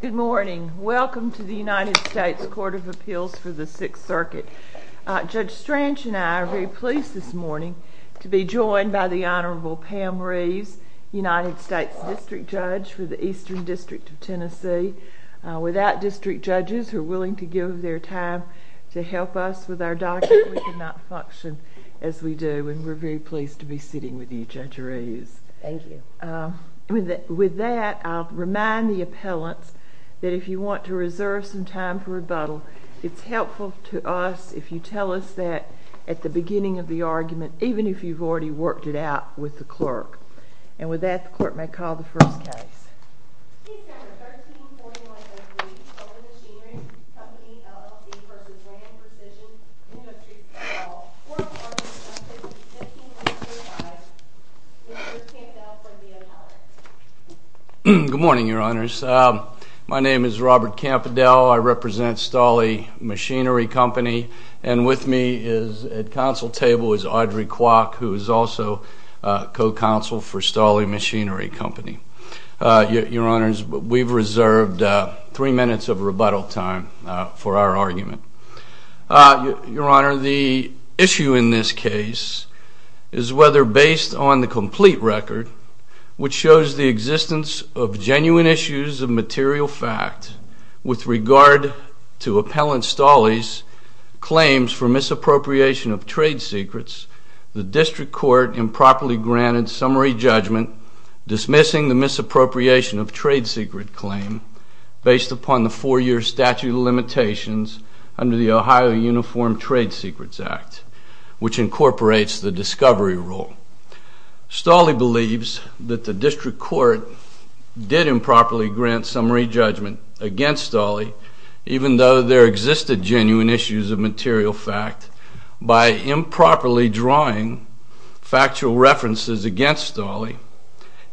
Good morning. Welcome to the United States Court of Appeals for the Sixth Circuit. Judge Strange and I are very pleased this morning to be joined by the Honorable Pam Reeves, United States District Judge for the Eastern District of Tennessee. Without district judges who are willing to give their time to help us with our document, we cannot function as we do and we're very pleased to be Thank you. With that, I'll remind the appellants that if you want to reserve some time for rebuttal, it's helpful to us if you tell us that at the beginning of the argument, even if you've already worked it out with the clerk. And with that, the court may call the first case. Good morning, Your Honors. My name is Robert Campadel. I represent Stolle Machinery Company and with me is at counsel table is Audrey Kwok, who is also co-counsel for Stolle Machinery Company. Your Honors, we've reserved three minutes of rebuttal time for our argument. Your Honor, the issue in this case is whether based on the complete record, which shows the existence of genuine issues of material fact with regard to Appellant Stolle's claims for misappropriation of trade secrets, the district court improperly granted summary judgment dismissing the misappropriation of trade secret claim based upon the four-year statute of limitations under the Ohio Uniform Trade Secrets Act, which incorporates the discovery rule. Stolle believes that the district court did improperly grant summary judgment against Stolle, even though there existed genuine issues of material fact, by improperly drawing factual references against Stolle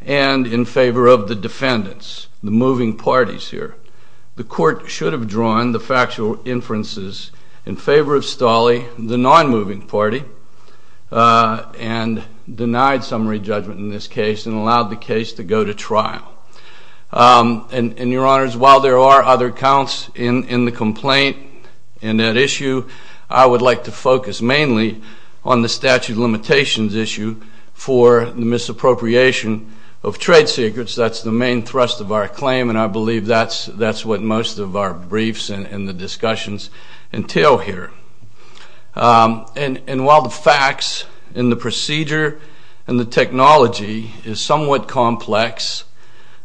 and in favor of the defendants, the moving parties here. The court should have drawn the factual inferences in favor of Stolle, the non-moving party, and denied summary judgment in this case and allowed the case to go to trial. And Your Honors, while there are other counts in the complaint and that issue, I would like to focus mainly on the statute of limitations issue for misappropriation of trade secrets. That's the main thrust of our claim and I believe that's what most of our briefs and the documents here. And while the facts and the procedure and the technology is somewhat complex,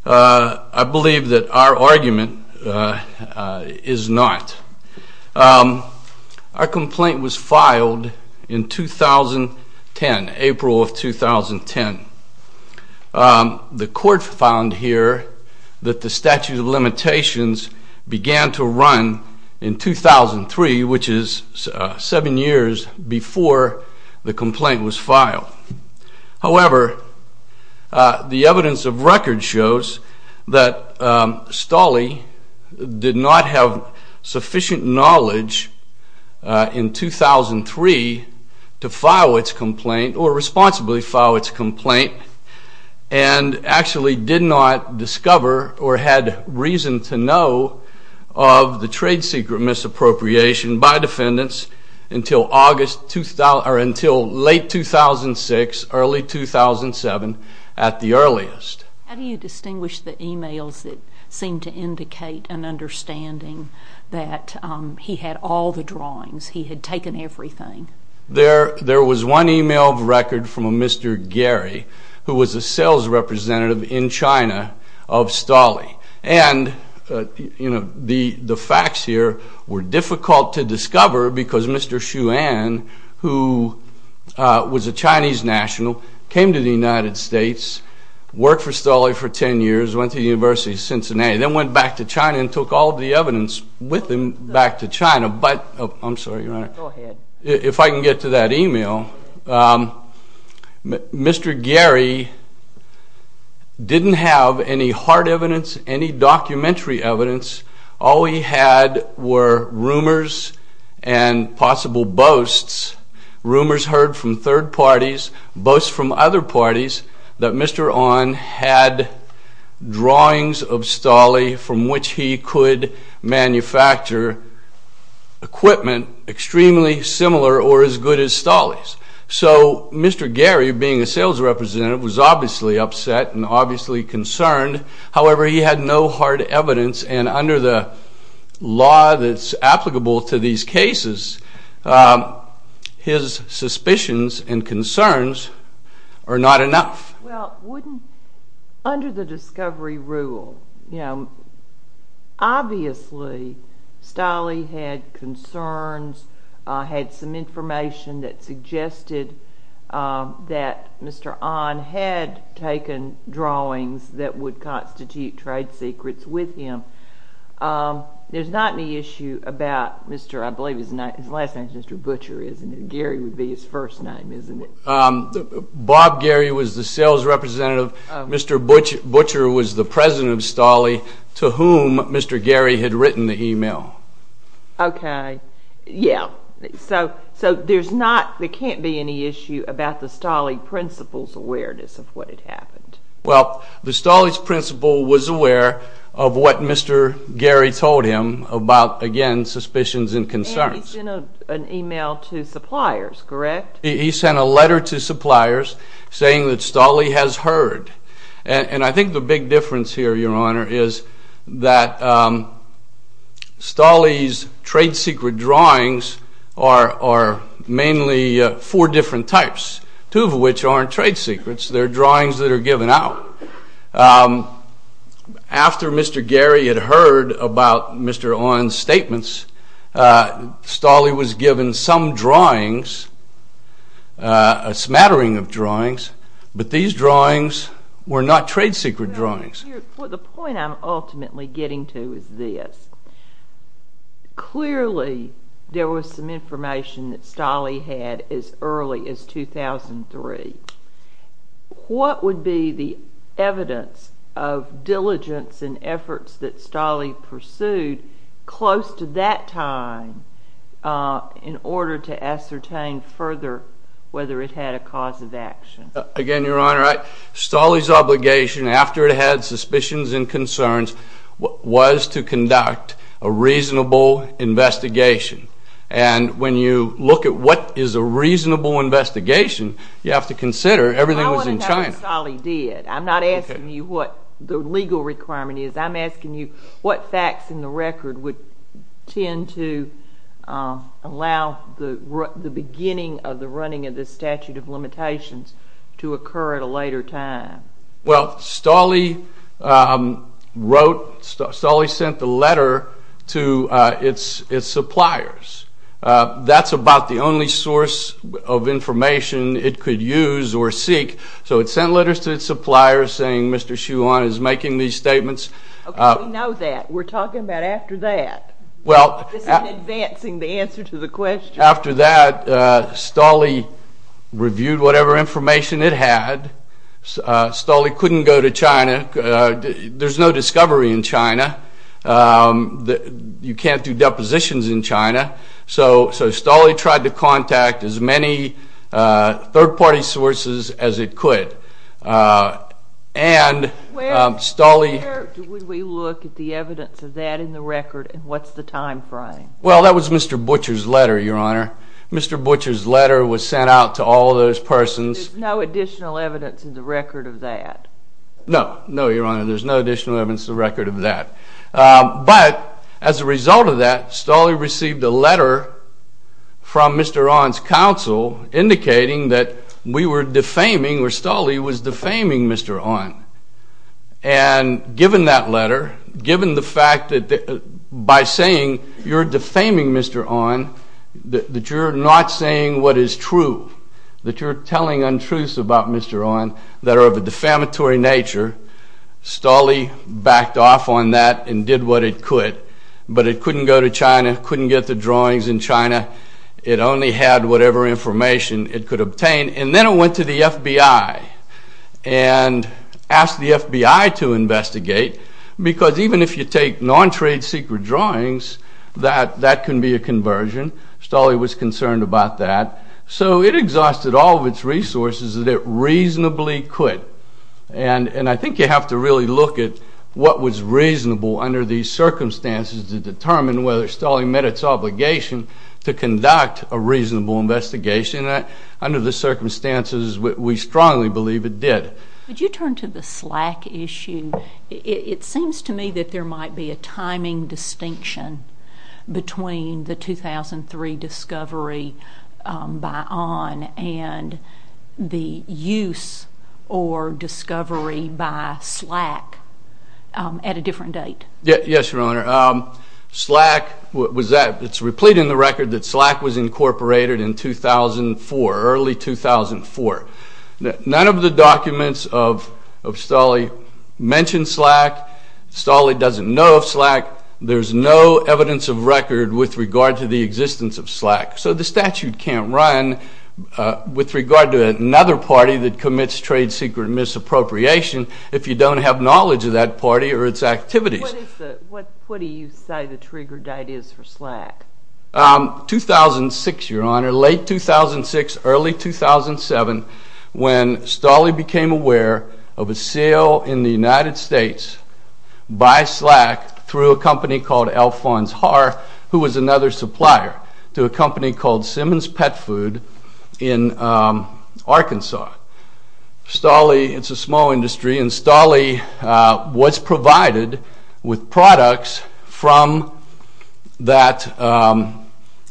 I believe that our argument is not. Our complaint was filed in 2010, April of 2010. The court found here that the statute of limitations began to run in 2003, which is seven years before the complaint was filed. However, the evidence of record shows that Stolle did not have sufficient knowledge in 2003 to file its complaint or responsibly file its complaint and actually did not discover or had reason to know of the trade secret misappropriation by defendants until late 2006, early 2007, at the earliest. How do you distinguish the emails that seem to indicate an understanding that he had all the drawings, he had taken everything? There was one email of record from a Mr. Gary, who was a sales representative in China of Stolle. And, you know, the facts here were difficult to discover because Mr. Xu An, who was a Chinese national, came to the United States, worked for Stolle for 10 years, went to the University of Cincinnati, then went back to China and took all the evidence with him back to China. But, I'm sorry, if I can get to that email, Mr. Gary didn't have any hard evidence, any documentary evidence. All he had were rumors and possible boasts. Rumors heard from third parties, boasts from other parties, that Mr. An had drawings of Stolle from which he could manufacture equipment extremely similar or as good as Stolle's. So, Mr. Gary, being a sales representative, was obviously upset and obviously concerned. However, he had no hard evidence and under the law that's applicable to these cases, his suspicions and concerns are not enough. Well, wouldn't, under the discovery rule, you know, obviously Stolle had concerns, had some evidence that Mr. An had taken drawings that would constitute trade secrets with him. There's not any issue about Mr., I believe his last name is Mr. Butcher, isn't it? Gary would be his first name, isn't it? Bob Gary was the sales representative. Mr. Butcher was the president of Stolle to whom Mr. Gary had written the email. Okay. Yeah. So, there's not, there can't be any issue about the Stolle principal's awareness of what had happened. Well, the Stolle's principal was aware of what Mr. Gary told him about, again, suspicions and concerns. And he sent an email to suppliers, correct? He sent a letter to suppliers saying that Stolle has heard. And I think the big difference here, Your Honor, is that Stolle's trade secret drawings are mainly four different types, two of which aren't trade secrets. They're drawings that are given out. After Mr. Gary had heard about Mr. An's statements, Stolle was given some drawings, a smattering of drawings, but these drawings were not trade secret drawings. Well, the point I'm ultimately getting to is this. Clearly, there was some information that Stolle had as early as 2003. What would be the evidence of diligence and efforts that Stolle pursued close to that time in order to ascertain further whether it had a cause of action? Again, Your Honor, Stolle's obligation, after it had suspicions and concerns, was to conduct a reasonable investigation. And when you look at what is a reasonable investigation, you have to consider everything was in China. I want to know what Stolle did. I'm not asking you what the legal requirement is. I'm asking you what facts in the record would tend to allow the beginning of the running of the statute of limitations to occur at a later time. Well, Stolle wrote, Stolle sent the letter to its suppliers. That's about the only source of information it could use or seek. So it sent letters to its suppliers saying Mr. Xuan is making these statements. Okay, we know that. We're talking about after that. This is advancing the answer to the question. After that, Stolle reviewed whatever information it had. Stolle couldn't go to China. There's no discovery in China. You can't do depositions in China. So Stolle tried to contact as many third-party sources as it could. Where would we look at the evidence of that in the record, and what's the time frame? Well, that was Mr. Butcher's letter, Your Honor. Mr. Butcher's letter was sent out to all of those persons. There's no additional evidence in the record of that? No, no, Your Honor. There's no additional evidence in the record of that. But as a result of that, Stolle received a letter from Mr. An's counsel indicating that we were defaming, or Stolle was defaming Mr. An. And given that letter, given the fact that by saying you're defaming Mr. An, that you're not saying what is true, that you're telling untruths about Mr. An that are of a defamatory nature, Stolle backed off on that and did what it could. But it couldn't go to China, couldn't get the drawings in China. It only had whatever information it could obtain. And then it went to the FBI and asked the FBI to investigate because even if you take non-trade secret drawings, that couldn't be a conversion. Stolle was concerned about that. So it exhausted all of its resources that it reasonably could. And I think you have to really look at what was reasonable under these circumstances to determine whether Stolle met its obligation to conduct a reasonable investigation. Under the circumstances, we strongly believe it did. Would you turn to the SLAC issue? It seems to me that there might be a timing distinction between the 2003 discovery by An and the use or discovery by SLAC at a different date. Yes, Your Honor. SLAC, what was that? It's replete in the record that SLAC was incorporated in 2004, early 2004. None of the documents of Stolle mention SLAC. Stolle doesn't know of SLAC. There's no evidence of record with regard to the existence of SLAC. So the statute can't run with regard to another party that commits trade secret misappropriation if you don't have knowledge of that party or its activities. What do you say the trigger date is for SLAC? 2006, Your Honor, late 2006, early 2007, when Stolle became aware of a sale in the United States by SLAC through a company called Alphonse Haar, who was another supplier to a company called Simmons Pet Food in Arkansas. Stolle, it's a small industry, and Stolle was provided with products from that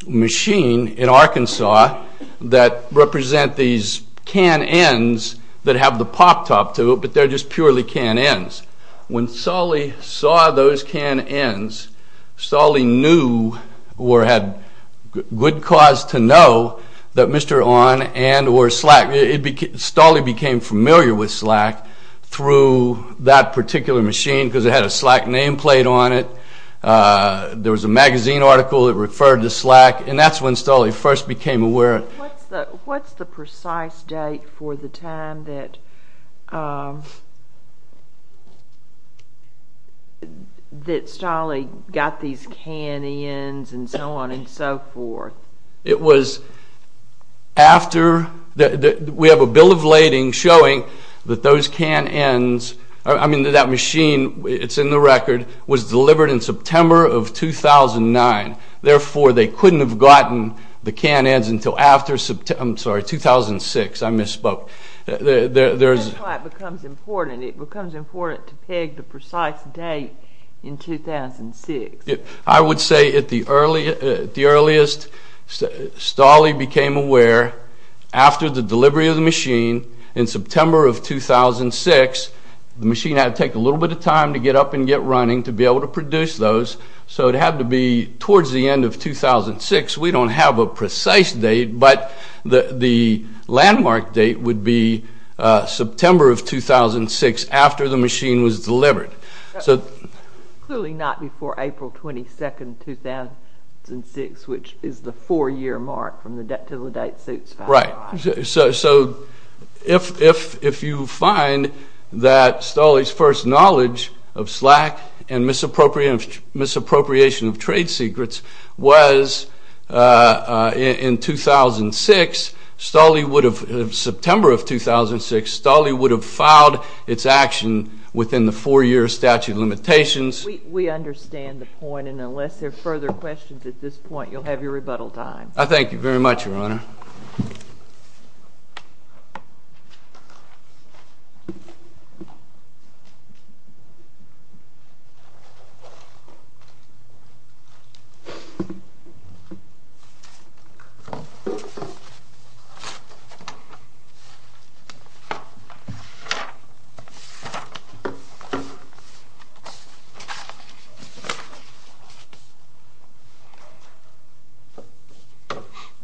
machine in Arkansas that represent these canned ends that have the pop top to it, but they're just purely canned ends. When Stolle saw those canned ends, Stolle knew or had good cause to know that Mr. Haar and or SLAC, Stolle became familiar with SLAC through that particular machine because it had a SLAC nameplate on it. There was a magazine article that referred to SLAC, and that's when Stolle first became aware. What's the precise date for the time that Stolle got these canned ends and so on and so forth? We have a bill of lading showing that that machine, it's in the record, was delivered in September of 2009. Therefore, they couldn't have gotten the canned ends until after September, I'm sorry, 2006. I misspoke. That's why it becomes important. It becomes important to peg the precise date in 2006. I would say at the earliest, Stolle became aware after the delivery of the machine in September of 2006. The machine had to take a little bit of time to get up and get running to be able to produce those, so it had to be towards the end of 2006. We don't have a precise date, but the landmark date would be September of 2006 after the machine was delivered. Clearly not before April 22nd, 2006, which is the four-year mark from the debt to the date suits. Right. If you find that Stolle's first knowledge of SLAC and misappropriation of trade secrets was in 2006, Stolle would have, September of 2006, Stolle would have filed its action within the four-year statute of limitations. We understand the point, and unless there are further questions at this point, you'll have your rebuttal time. I thank you very much, Your Honor.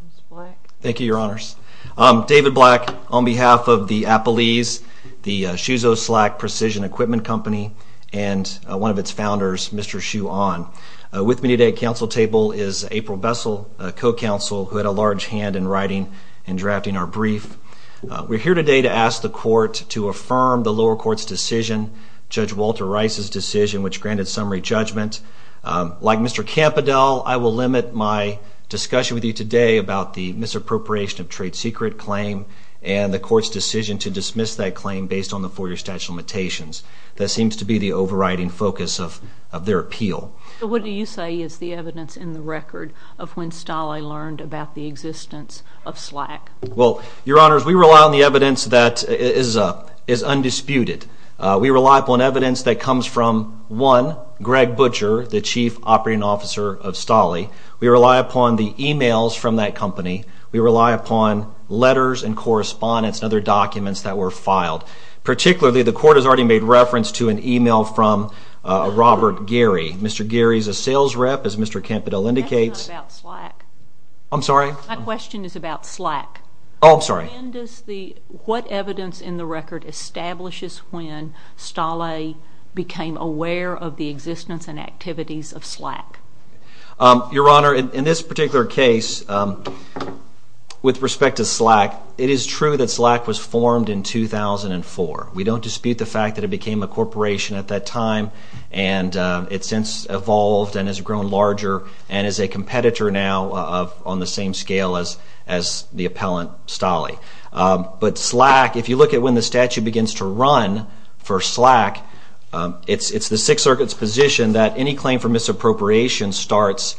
Ms. Black. Thank you, Your Honors. David Black, on behalf of the Appalese, the Shuzo SLAC Precision Equipment Company, and one of its founders, Mr. Hsu An. With me today at council table is April Bessel, co-counsel, who had a large hand in writing and drafting our brief. We're here today to ask the court to affirm the lower court's decision, Judge Walter Rice's decision, which granted summary judgment. Like Mr. Campadel, I will limit my discussion with you today about the misappropriation of trade secret claim and the court's decision to dismiss that claim based on the four-year statute of limitations. That seems to be the overriding focus of their appeal. What do you say is the evidence in the record of when Stolle learned about the existence of SLAC? Well, Your Honors, we rely on the evidence that is undisputed. We rely upon evidence that comes from, one, Greg Butcher, the chief operating officer of Stolle. We rely upon the e-mails from that company. We rely upon letters and correspondence and other documents that were filed. Particularly, the court has already made reference to an e-mail from Robert Geary. Mr. Geary is a sales rep, as Mr. Campadel indicates. That's not about SLAC. I'm sorry? My question is about SLAC. Oh, I'm sorry. When does the, what evidence in the record establishes when Stolle became aware of the existence and activities of SLAC? Your Honor, in this particular case, with respect to SLAC, it is true that SLAC was formed in 2004. We don't dispute the fact that it became a corporation at that time and it's since evolved and has grown larger and is a competitor now on the same scale as the appellant Stolle. But SLAC, if you look at when the statute begins to run for SLAC, it's the Sixth Circuit's position that any claim for misappropriation starts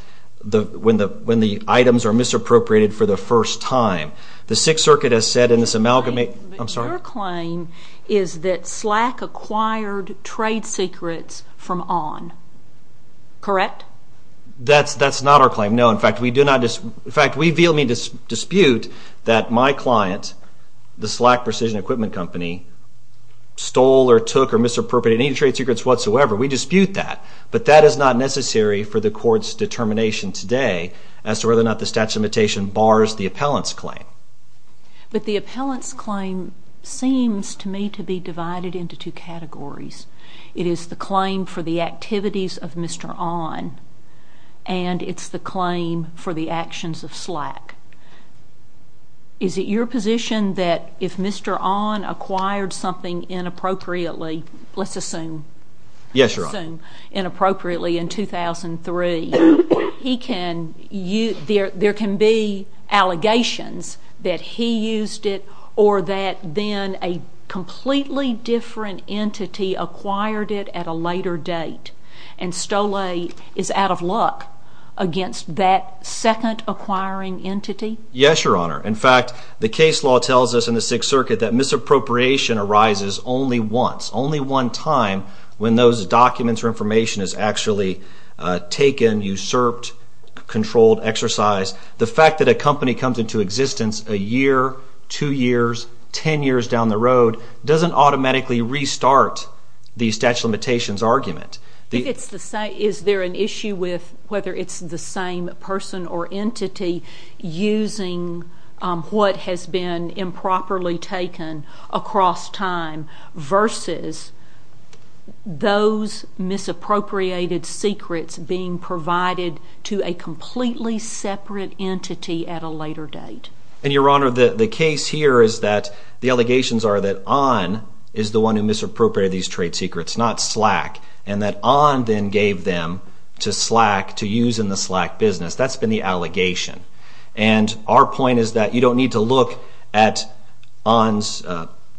when the items are misappropriated for the first time. The Sixth Circuit has said in this amalgamate... Your claim is that SLAC acquired trade secrets from ON. Correct? That's not our claim. No, in fact, we do not, in fact, we vehemently dispute that my client, the SLAC Precision Equipment Company, stole or took or misappropriated any trade secrets whatsoever. We dispute that. But that is not necessary for the Court's determination today as to whether or not the statute of limitation bars the appellant's claim. But the appellant's claim seems to me to be divided into two categories. It is the claim for the activities of Mr. ON and it's the claim for the actions of SLAC. Is it your position that if Mr. ON acquired something inappropriately, let's assume, inappropriately in 2003, there can be allegations that he used it or that then a completely different entity acquired it at a later date and stole it and is out of luck against that second acquiring entity? Yes, Your Honor. In fact, the case law tells us in the Sixth Circuit that misappropriation arises only once, only one time when those documents or information is actually taken, usurped, controlled, exercised. The fact that a company comes into existence a year, two years, ten years down the road doesn't automatically restart the statute of limitations argument. Is there an issue with whether it's the same person or entity using what has been improperly taken across time versus those misappropriated secrets being provided to a completely separate entity at a later date? Your Honor, the case here is that the allegations are that ON is the one who misappropriated these trade secrets, not SLAC, and that ON then gave them to SLAC to use in the SLAC business. That's been the allegation. Our point is that you don't need to look at ON's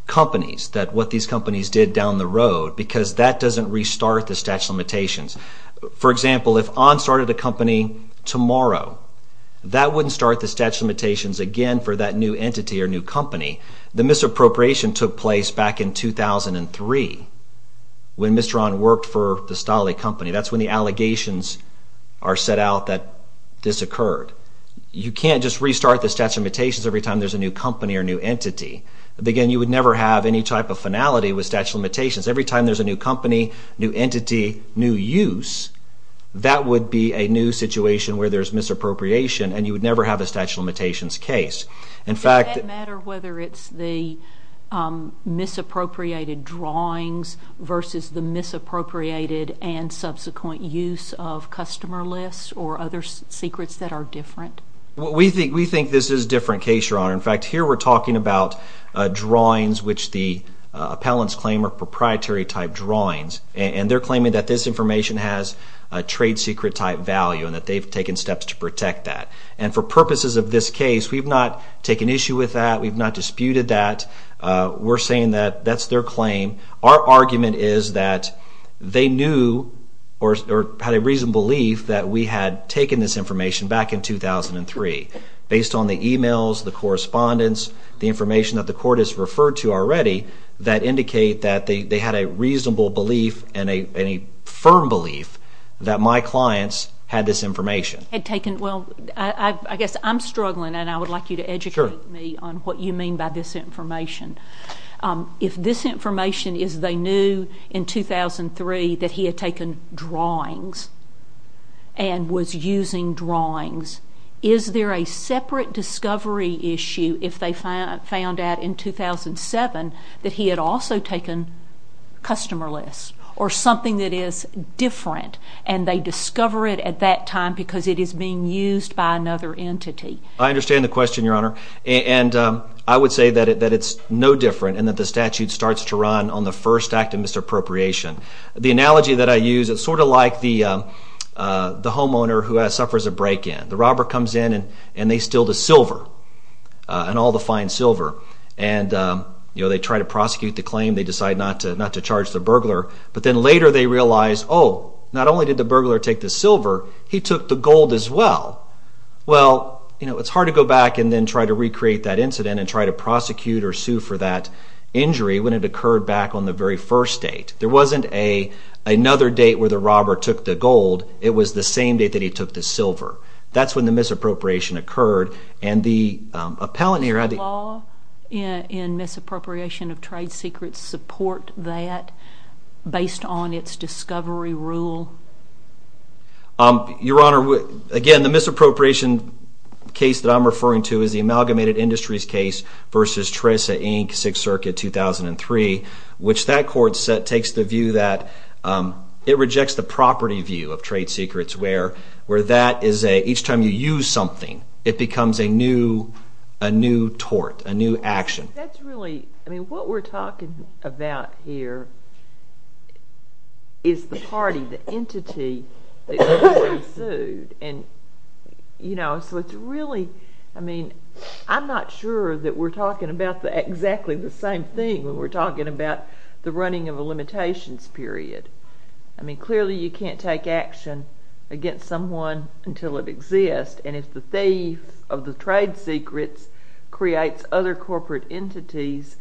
companies, what these companies did down the road, because that doesn't restart the statute of limitations. For example, if ON started a company tomorrow, that wouldn't start the statute of limitations again for that new entity or new company. The misappropriation took place back in 2003 when Mr. ON worked for the Stahli Company. That's when the allegations are set out that this occurred. You can't just restart the statute of limitations every time there's a new company or new entity. Again, you would never have any type of finality with statute of limitations. Every time there's a new company, new entity, new use, that would be a new situation where there's misappropriation, and you would never have a statute of limitations case. Does that matter whether it's the misappropriated drawings versus the misappropriated and subsequent use of customer lists or other secrets that are different? We think this is a different case, Your Honor. In fact, here we're talking about drawings which the appellants claim are proprietary type drawings, and they're claiming that this information has a trade secret type value, and that they've taken steps to protect that. And for purposes of this case, we've not taken issue with that. We've not disputed that. We're saying that that's their claim. Our argument is that they knew or had a reasonable belief that we had taken this information back in 2003 based on the emails, the correspondence, the information that the court has referred to already that indicate that they had a reasonable belief and a firm belief that my clients had this information. Well, I guess I'm struggling, and I would like you to educate me on what you mean by this information. If this information is they knew in 2003 that he had taken drawings and was using drawings, is there a separate discovery issue if they found out in 2007 that he had also taken customer lists? Or something that is different, and they discover it at that time because it is being used by another entity? I understand the question, Your Honor, and I would say that it's no different and that the statute starts to run on the first act of misappropriation. The analogy that I use, it's sort of like the homeowner who suffers a break-in. The robber comes in and they steal the silver, and all the fine silver, and they try to prosecute the claim. They decide not to charge the burglar, but then later they realize, oh, not only did the burglar take the silver, he took the gold as well. Well, you know, it's hard to go back and then try to recreate that incident and try to prosecute or sue for that injury when it occurred back on the very first date. There wasn't another date where the robber took the gold. It was the same date that he took the silver. That's when the misappropriation occurred. Does the law in misappropriation of trade secrets support that based on its discovery rule? Your Honor, again, the misappropriation case that I'm referring to is the Amalgamated Industries case v. Teresa, Inc., 6th Circuit, 2003, which that court takes the view that misappropriation of trade secrets, where that is a, each time you use something, it becomes a new tort, a new action. That's really, I mean, what we're talking about here is the party, the entity that is being sued, and, you know, so it's really, I mean, I'm not sure that we're talking about exactly the same thing when we're talking about the running of a limitations period. I mean, clearly you can't take action against someone until it exists, and if the thief of the trade secrets creates other corporate entities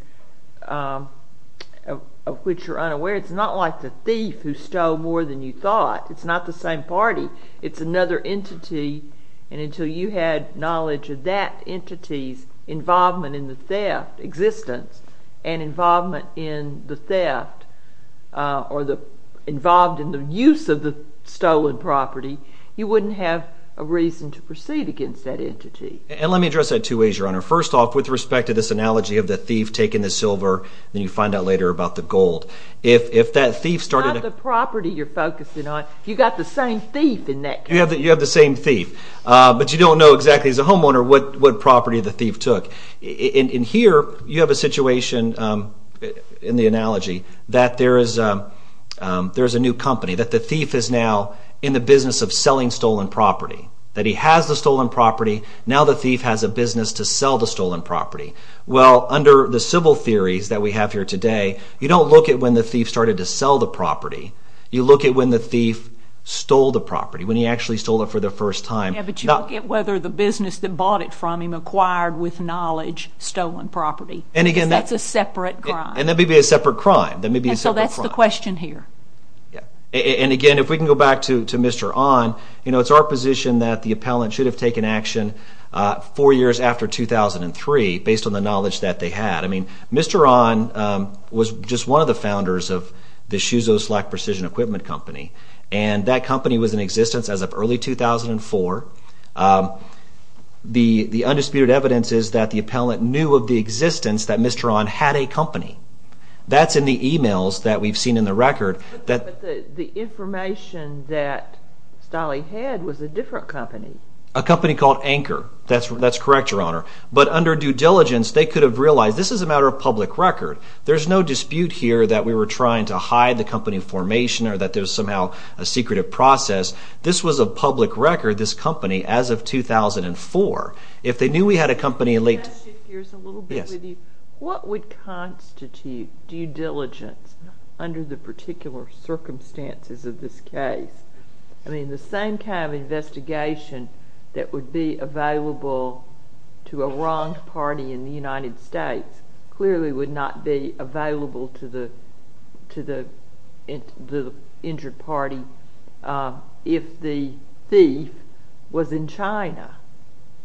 of which you're unaware, it's not like the thief who stole more than you thought. It's not the same party. It's another entity, and until you had knowledge of that entity's involvement in the theft, existence, and involvement in the theft, or involved in the use of the stolen property, you wouldn't have a reason to proceed against that entity. And let me address that two ways, Your Honor. First off, with respect to this analogy of the thief taking the silver, then you find out later about the gold. If that thief started... Not the property you're focusing on. You've got the same thief in that case. You have the homeowner, what property the thief took. In here, you have a situation in the analogy that there is a new company, that the thief is now in the business of selling stolen property. That he has the stolen property. Now the thief has a business to sell the stolen property. Well, under the civil theories that we have here today, you don't look at when the thief started to sell the property. You look at when the thief stole the property, when he actually stole it for the first time. Yeah, but you don't get whether the business that bought it from him acquired with knowledge stolen property. Because that's a separate crime. And that may be a separate crime. That may be a separate crime. Yeah, so that's the question here. And again, if we can go back to Mr. Onn, you know, it's our position that the appellant should have taken action four years after 2003, based on the knowledge that they had. I mean, Mr. Onn was just one of the founders of the Shuzo Slack Precision Equipment Company. And that company was in existence as of early 2004. The undisputed evidence is that the appellant knew of the existence that Mr. Onn had a company. That's in the emails that we've seen in the record. But the information that Stolle had was a different company. A company called Anchor. That's correct, Your Honor. But under due diligence, they could have realized this is a matter of public record. There's no dispute here that we were trying to hide the company formation or that there's somehow a secretive process. This was a public record, this company, as of 2004. If they knew we had a company in late... Can I shift gears a little bit with you? Yes. What would constitute due diligence under the particular circumstances of this case? I mean, the same kind of investigation that would be available to a wronged party in the United States clearly would not be available to the injured party if the thief was in China.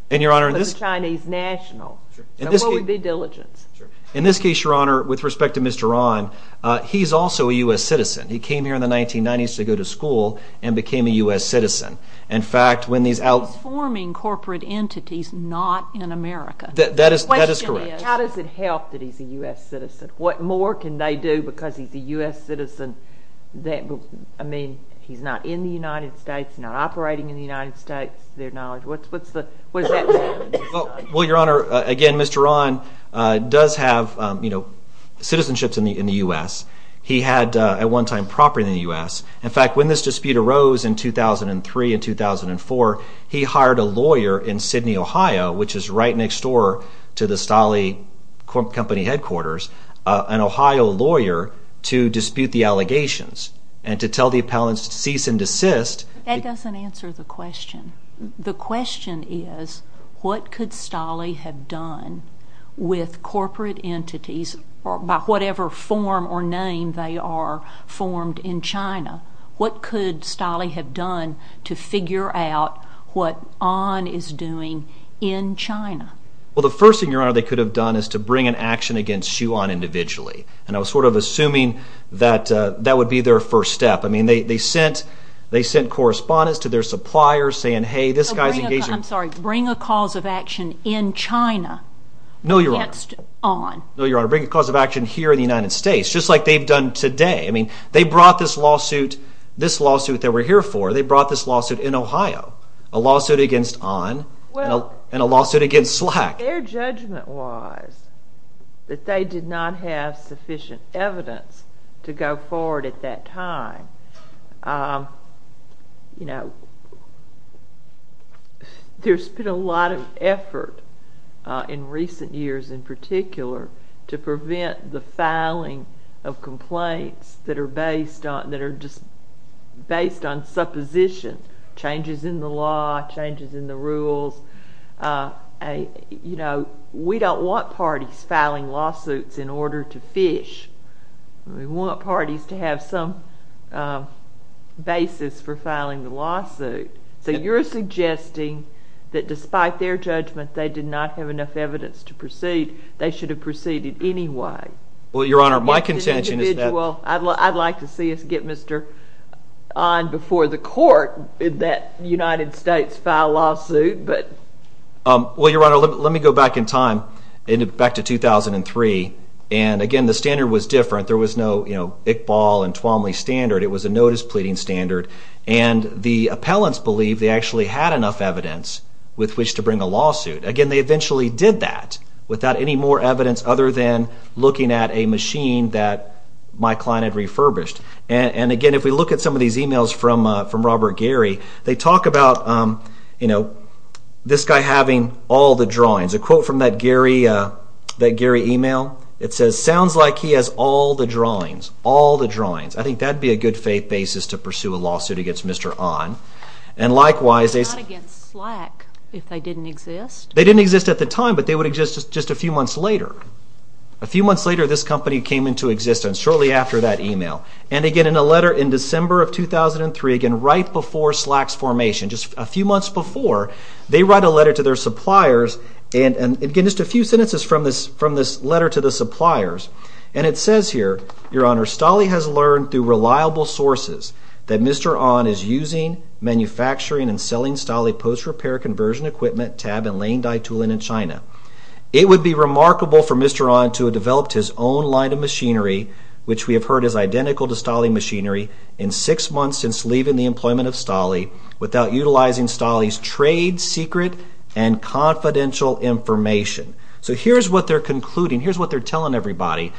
And, Your Honor, in this case... Because China is national. So what would be diligence? In this case, Your Honor, with respect to Mr. Onn, he's also a U.S. citizen. He came here in the 1990s to go to school and became a U.S. citizen. In fact, when these out... He's forming corporate entities not in America. That is correct. The question is, how does it help that he's a U.S. citizen? What more can they do because he's a U.S. citizen that... I mean, he's not in the United States, not operating in the United States, to their knowledge. What's the... What does that say? Well, Your Honor, again, Mr. Onn does have, you know, citizenships in the U.S. He had a one-time property in the U.S. In fact, when this dispute arose in 2003 and 2004, he hired a lawyer in Sydney, Ohio, which is right next door to the Stolle Company headquarters, an Ohio lawyer, to dispute the allegations and to tell the appellants to cease and desist. That doesn't answer the question. The question is, what could Stolle have done with corporate entities by whatever form or name they are formed in China? What could Stolle have done to figure out what Onn is doing in China? Well, the first thing, Your Honor, they could have done is to bring an action against Xu An individually. And I was sort of assuming that that would be their first step. I mean, they sent correspondents to their suppliers saying, hey, this guy's engaged in... I'm sorry. Bring a cause of action in China against Onn. No, Your Honor. No, Your Honor. Bring a cause of action here in the United States, just like they've done today. I mean, they brought this lawsuit, this lawsuit that we're here for. They brought this lawsuit in Ohio, a lawsuit against Onn and a lawsuit against Slack. Their judgment was that they did not have sufficient evidence to go forward at that time. You know, there's been a lot of effort in recent years in particular to prevent the filing of complaints that are based on, that are just based on supposition, changes in the law, changes in the rules. You know, we don't want parties filing lawsuits in order to fish. We want parties to have some basis for filing the lawsuit. So you're suggesting that despite their judgment, they did not have enough evidence to proceed. They should have proceeded anyway. Well, Your Honor, my contention is that... I'd like to see us get Mr. Onn before the court in that United States file lawsuit, but... Well, Your Honor, let me go back in time, back to 2003. And again, the standard was different. There was no Iqbal and Twomley standard. It was a notice pleading standard. And the appellants believed they actually had enough evidence with which to bring a lawsuit. Again, they eventually did that without any more evidence other than looking at a machine that my client had refurbished. And again, if we look at some of these emails from Robert Gehry, they talk about, you know, this guy having all the drawings. A quote from that Gehry email, it says, sounds like he has all the drawings. All the drawings. I think that would be a good faith basis to pursue a lawsuit against Mr. Onn. And likewise... They're not against slack if they didn't exist. They didn't exist at the time, but they would exist just a few months later. A few months later, this company came into existence, shortly after that email. And again, in a letter in December of 2003, again, right before Slack's formation, just a few months before, they write a letter to their suppliers. And again, just a few sentences from this letter to the suppliers. And it says here, Your Honor, Stolle has learned through reliable sources that Mr. Onn is using, manufacturing and selling Stolle post-repair conversion equipment, tab and laying die tooling in China. It would be remarkable for Mr. Onn to have developed his own line of machinery, which we have heard is identical to Stolle machinery, in six months since leaving the employment of Stolle, without utilizing Stolle's trade secret and confidential information. So here's what they're concluding. Here's what they're telling everybody.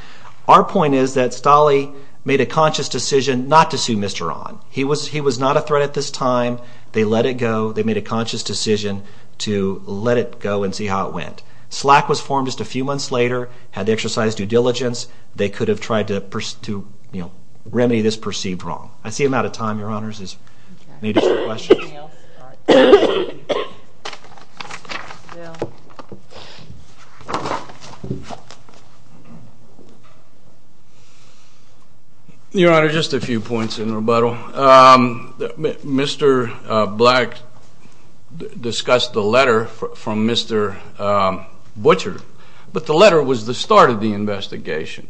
Our point is that Stolle made a conscious decision not to sue Mr. Onn. He was not a threat at this time. They let it go. They made a conscious decision to let it go and see how it went. Slack was formed just a few months later, had the exercise due diligence. They could have tried to, you know, remedy this perceived wrong. I see I'm out of time, Your Honors. I need a few questions. Your Honor, just a few points in rebuttal. Mr. Black discussed the letter from Mr. Butcher, but the letter was the start of the investigation.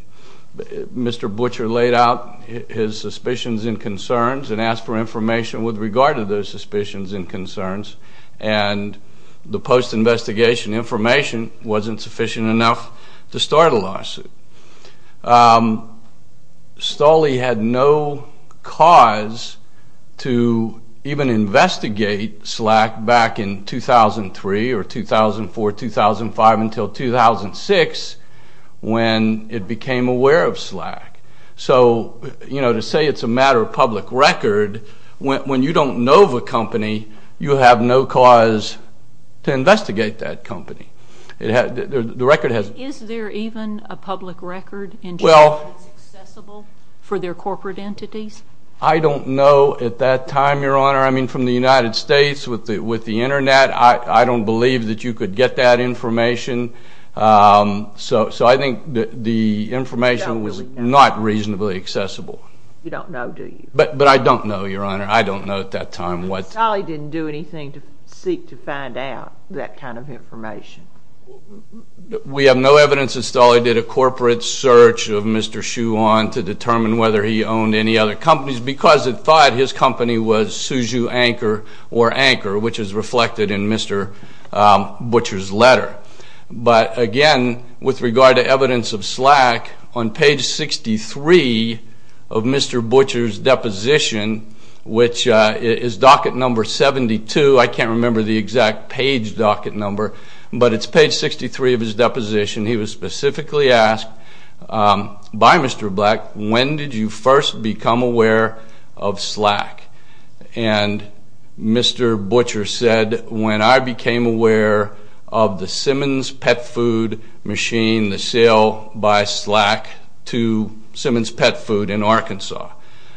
Mr. Butcher laid out his suspicions and concerns and asked for information with regard to those suspicions and concerns, and the post-investigation information wasn't sufficient enough to start a lawsuit. Stolle had no cause to even investigate Slack back in 2003 or 2004, 2005, until 2006 when it became aware of Slack. So, you know, to say it's a matter of public record, when you don't know of a company, you have no cause to investigate that company. The record has... Is there even a public record in general that's accessible for their corporate entities? I don't know at that time, Your Honor. I mean, from the United States, with the Internet, I don't believe that you could get that information. So I think the information was not reasonably accessible. You don't know, do you? But I don't know, Your Honor. I don't know at that time what... Stolle didn't do anything to seek to find out that kind of information. We have no evidence that Stolle did a corporate search of Mr. Schuon to determine whether he owned any other companies, because it thought his company was Suzhou Anchor, or Anchor, which is reflected in Mr. Butcher's letter. But again, with regard to evidence of Slack, on page 63 of Mr. Butcher's deposition, which is docket number 72, I can't remember the exact page docket number, but it's page 63 of his deposition, he was specifically asked by Mr. Black, when did you first become aware of Slack? And Mr. Butcher's answer was, I said, when I became aware of the Simmons Pet Food machine, the sale by Slack to Simmons Pet Food in Arkansas.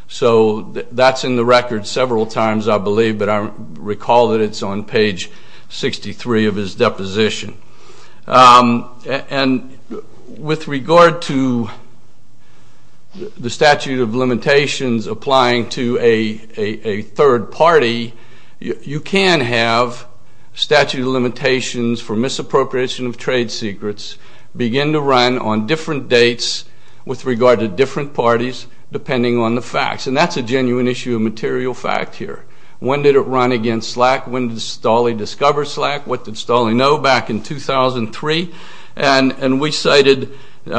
So that's in the record several times, I believe, but I recall that it's on page 63 of his deposition. And with regard to the statute of limitations applying to a third party, you can have statute of limitations for misappropriation of trade secrets begin to run on different dates with regard to different parties, depending on the facts. And that's a genuine issue of material fact here. When did it run against Slack? When did Stolle discover Slack? What did Stolle know back in 2003? And we cited the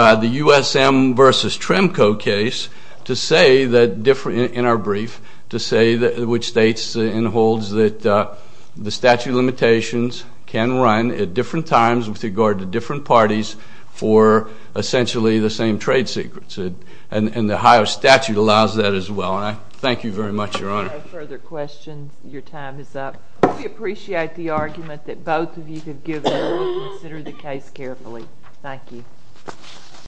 USM versus Tremco case to say that, in our brief, to say, which states and holds that the statute of limitations can run at different times with regard to different parties for essentially the same trade secrets. And the Ohio statute allows that as well. And I thank you very much, Your Honor. No further questions. Your time is up. We appreciate the argument that both of you have given and will consider the case carefully. Thank you.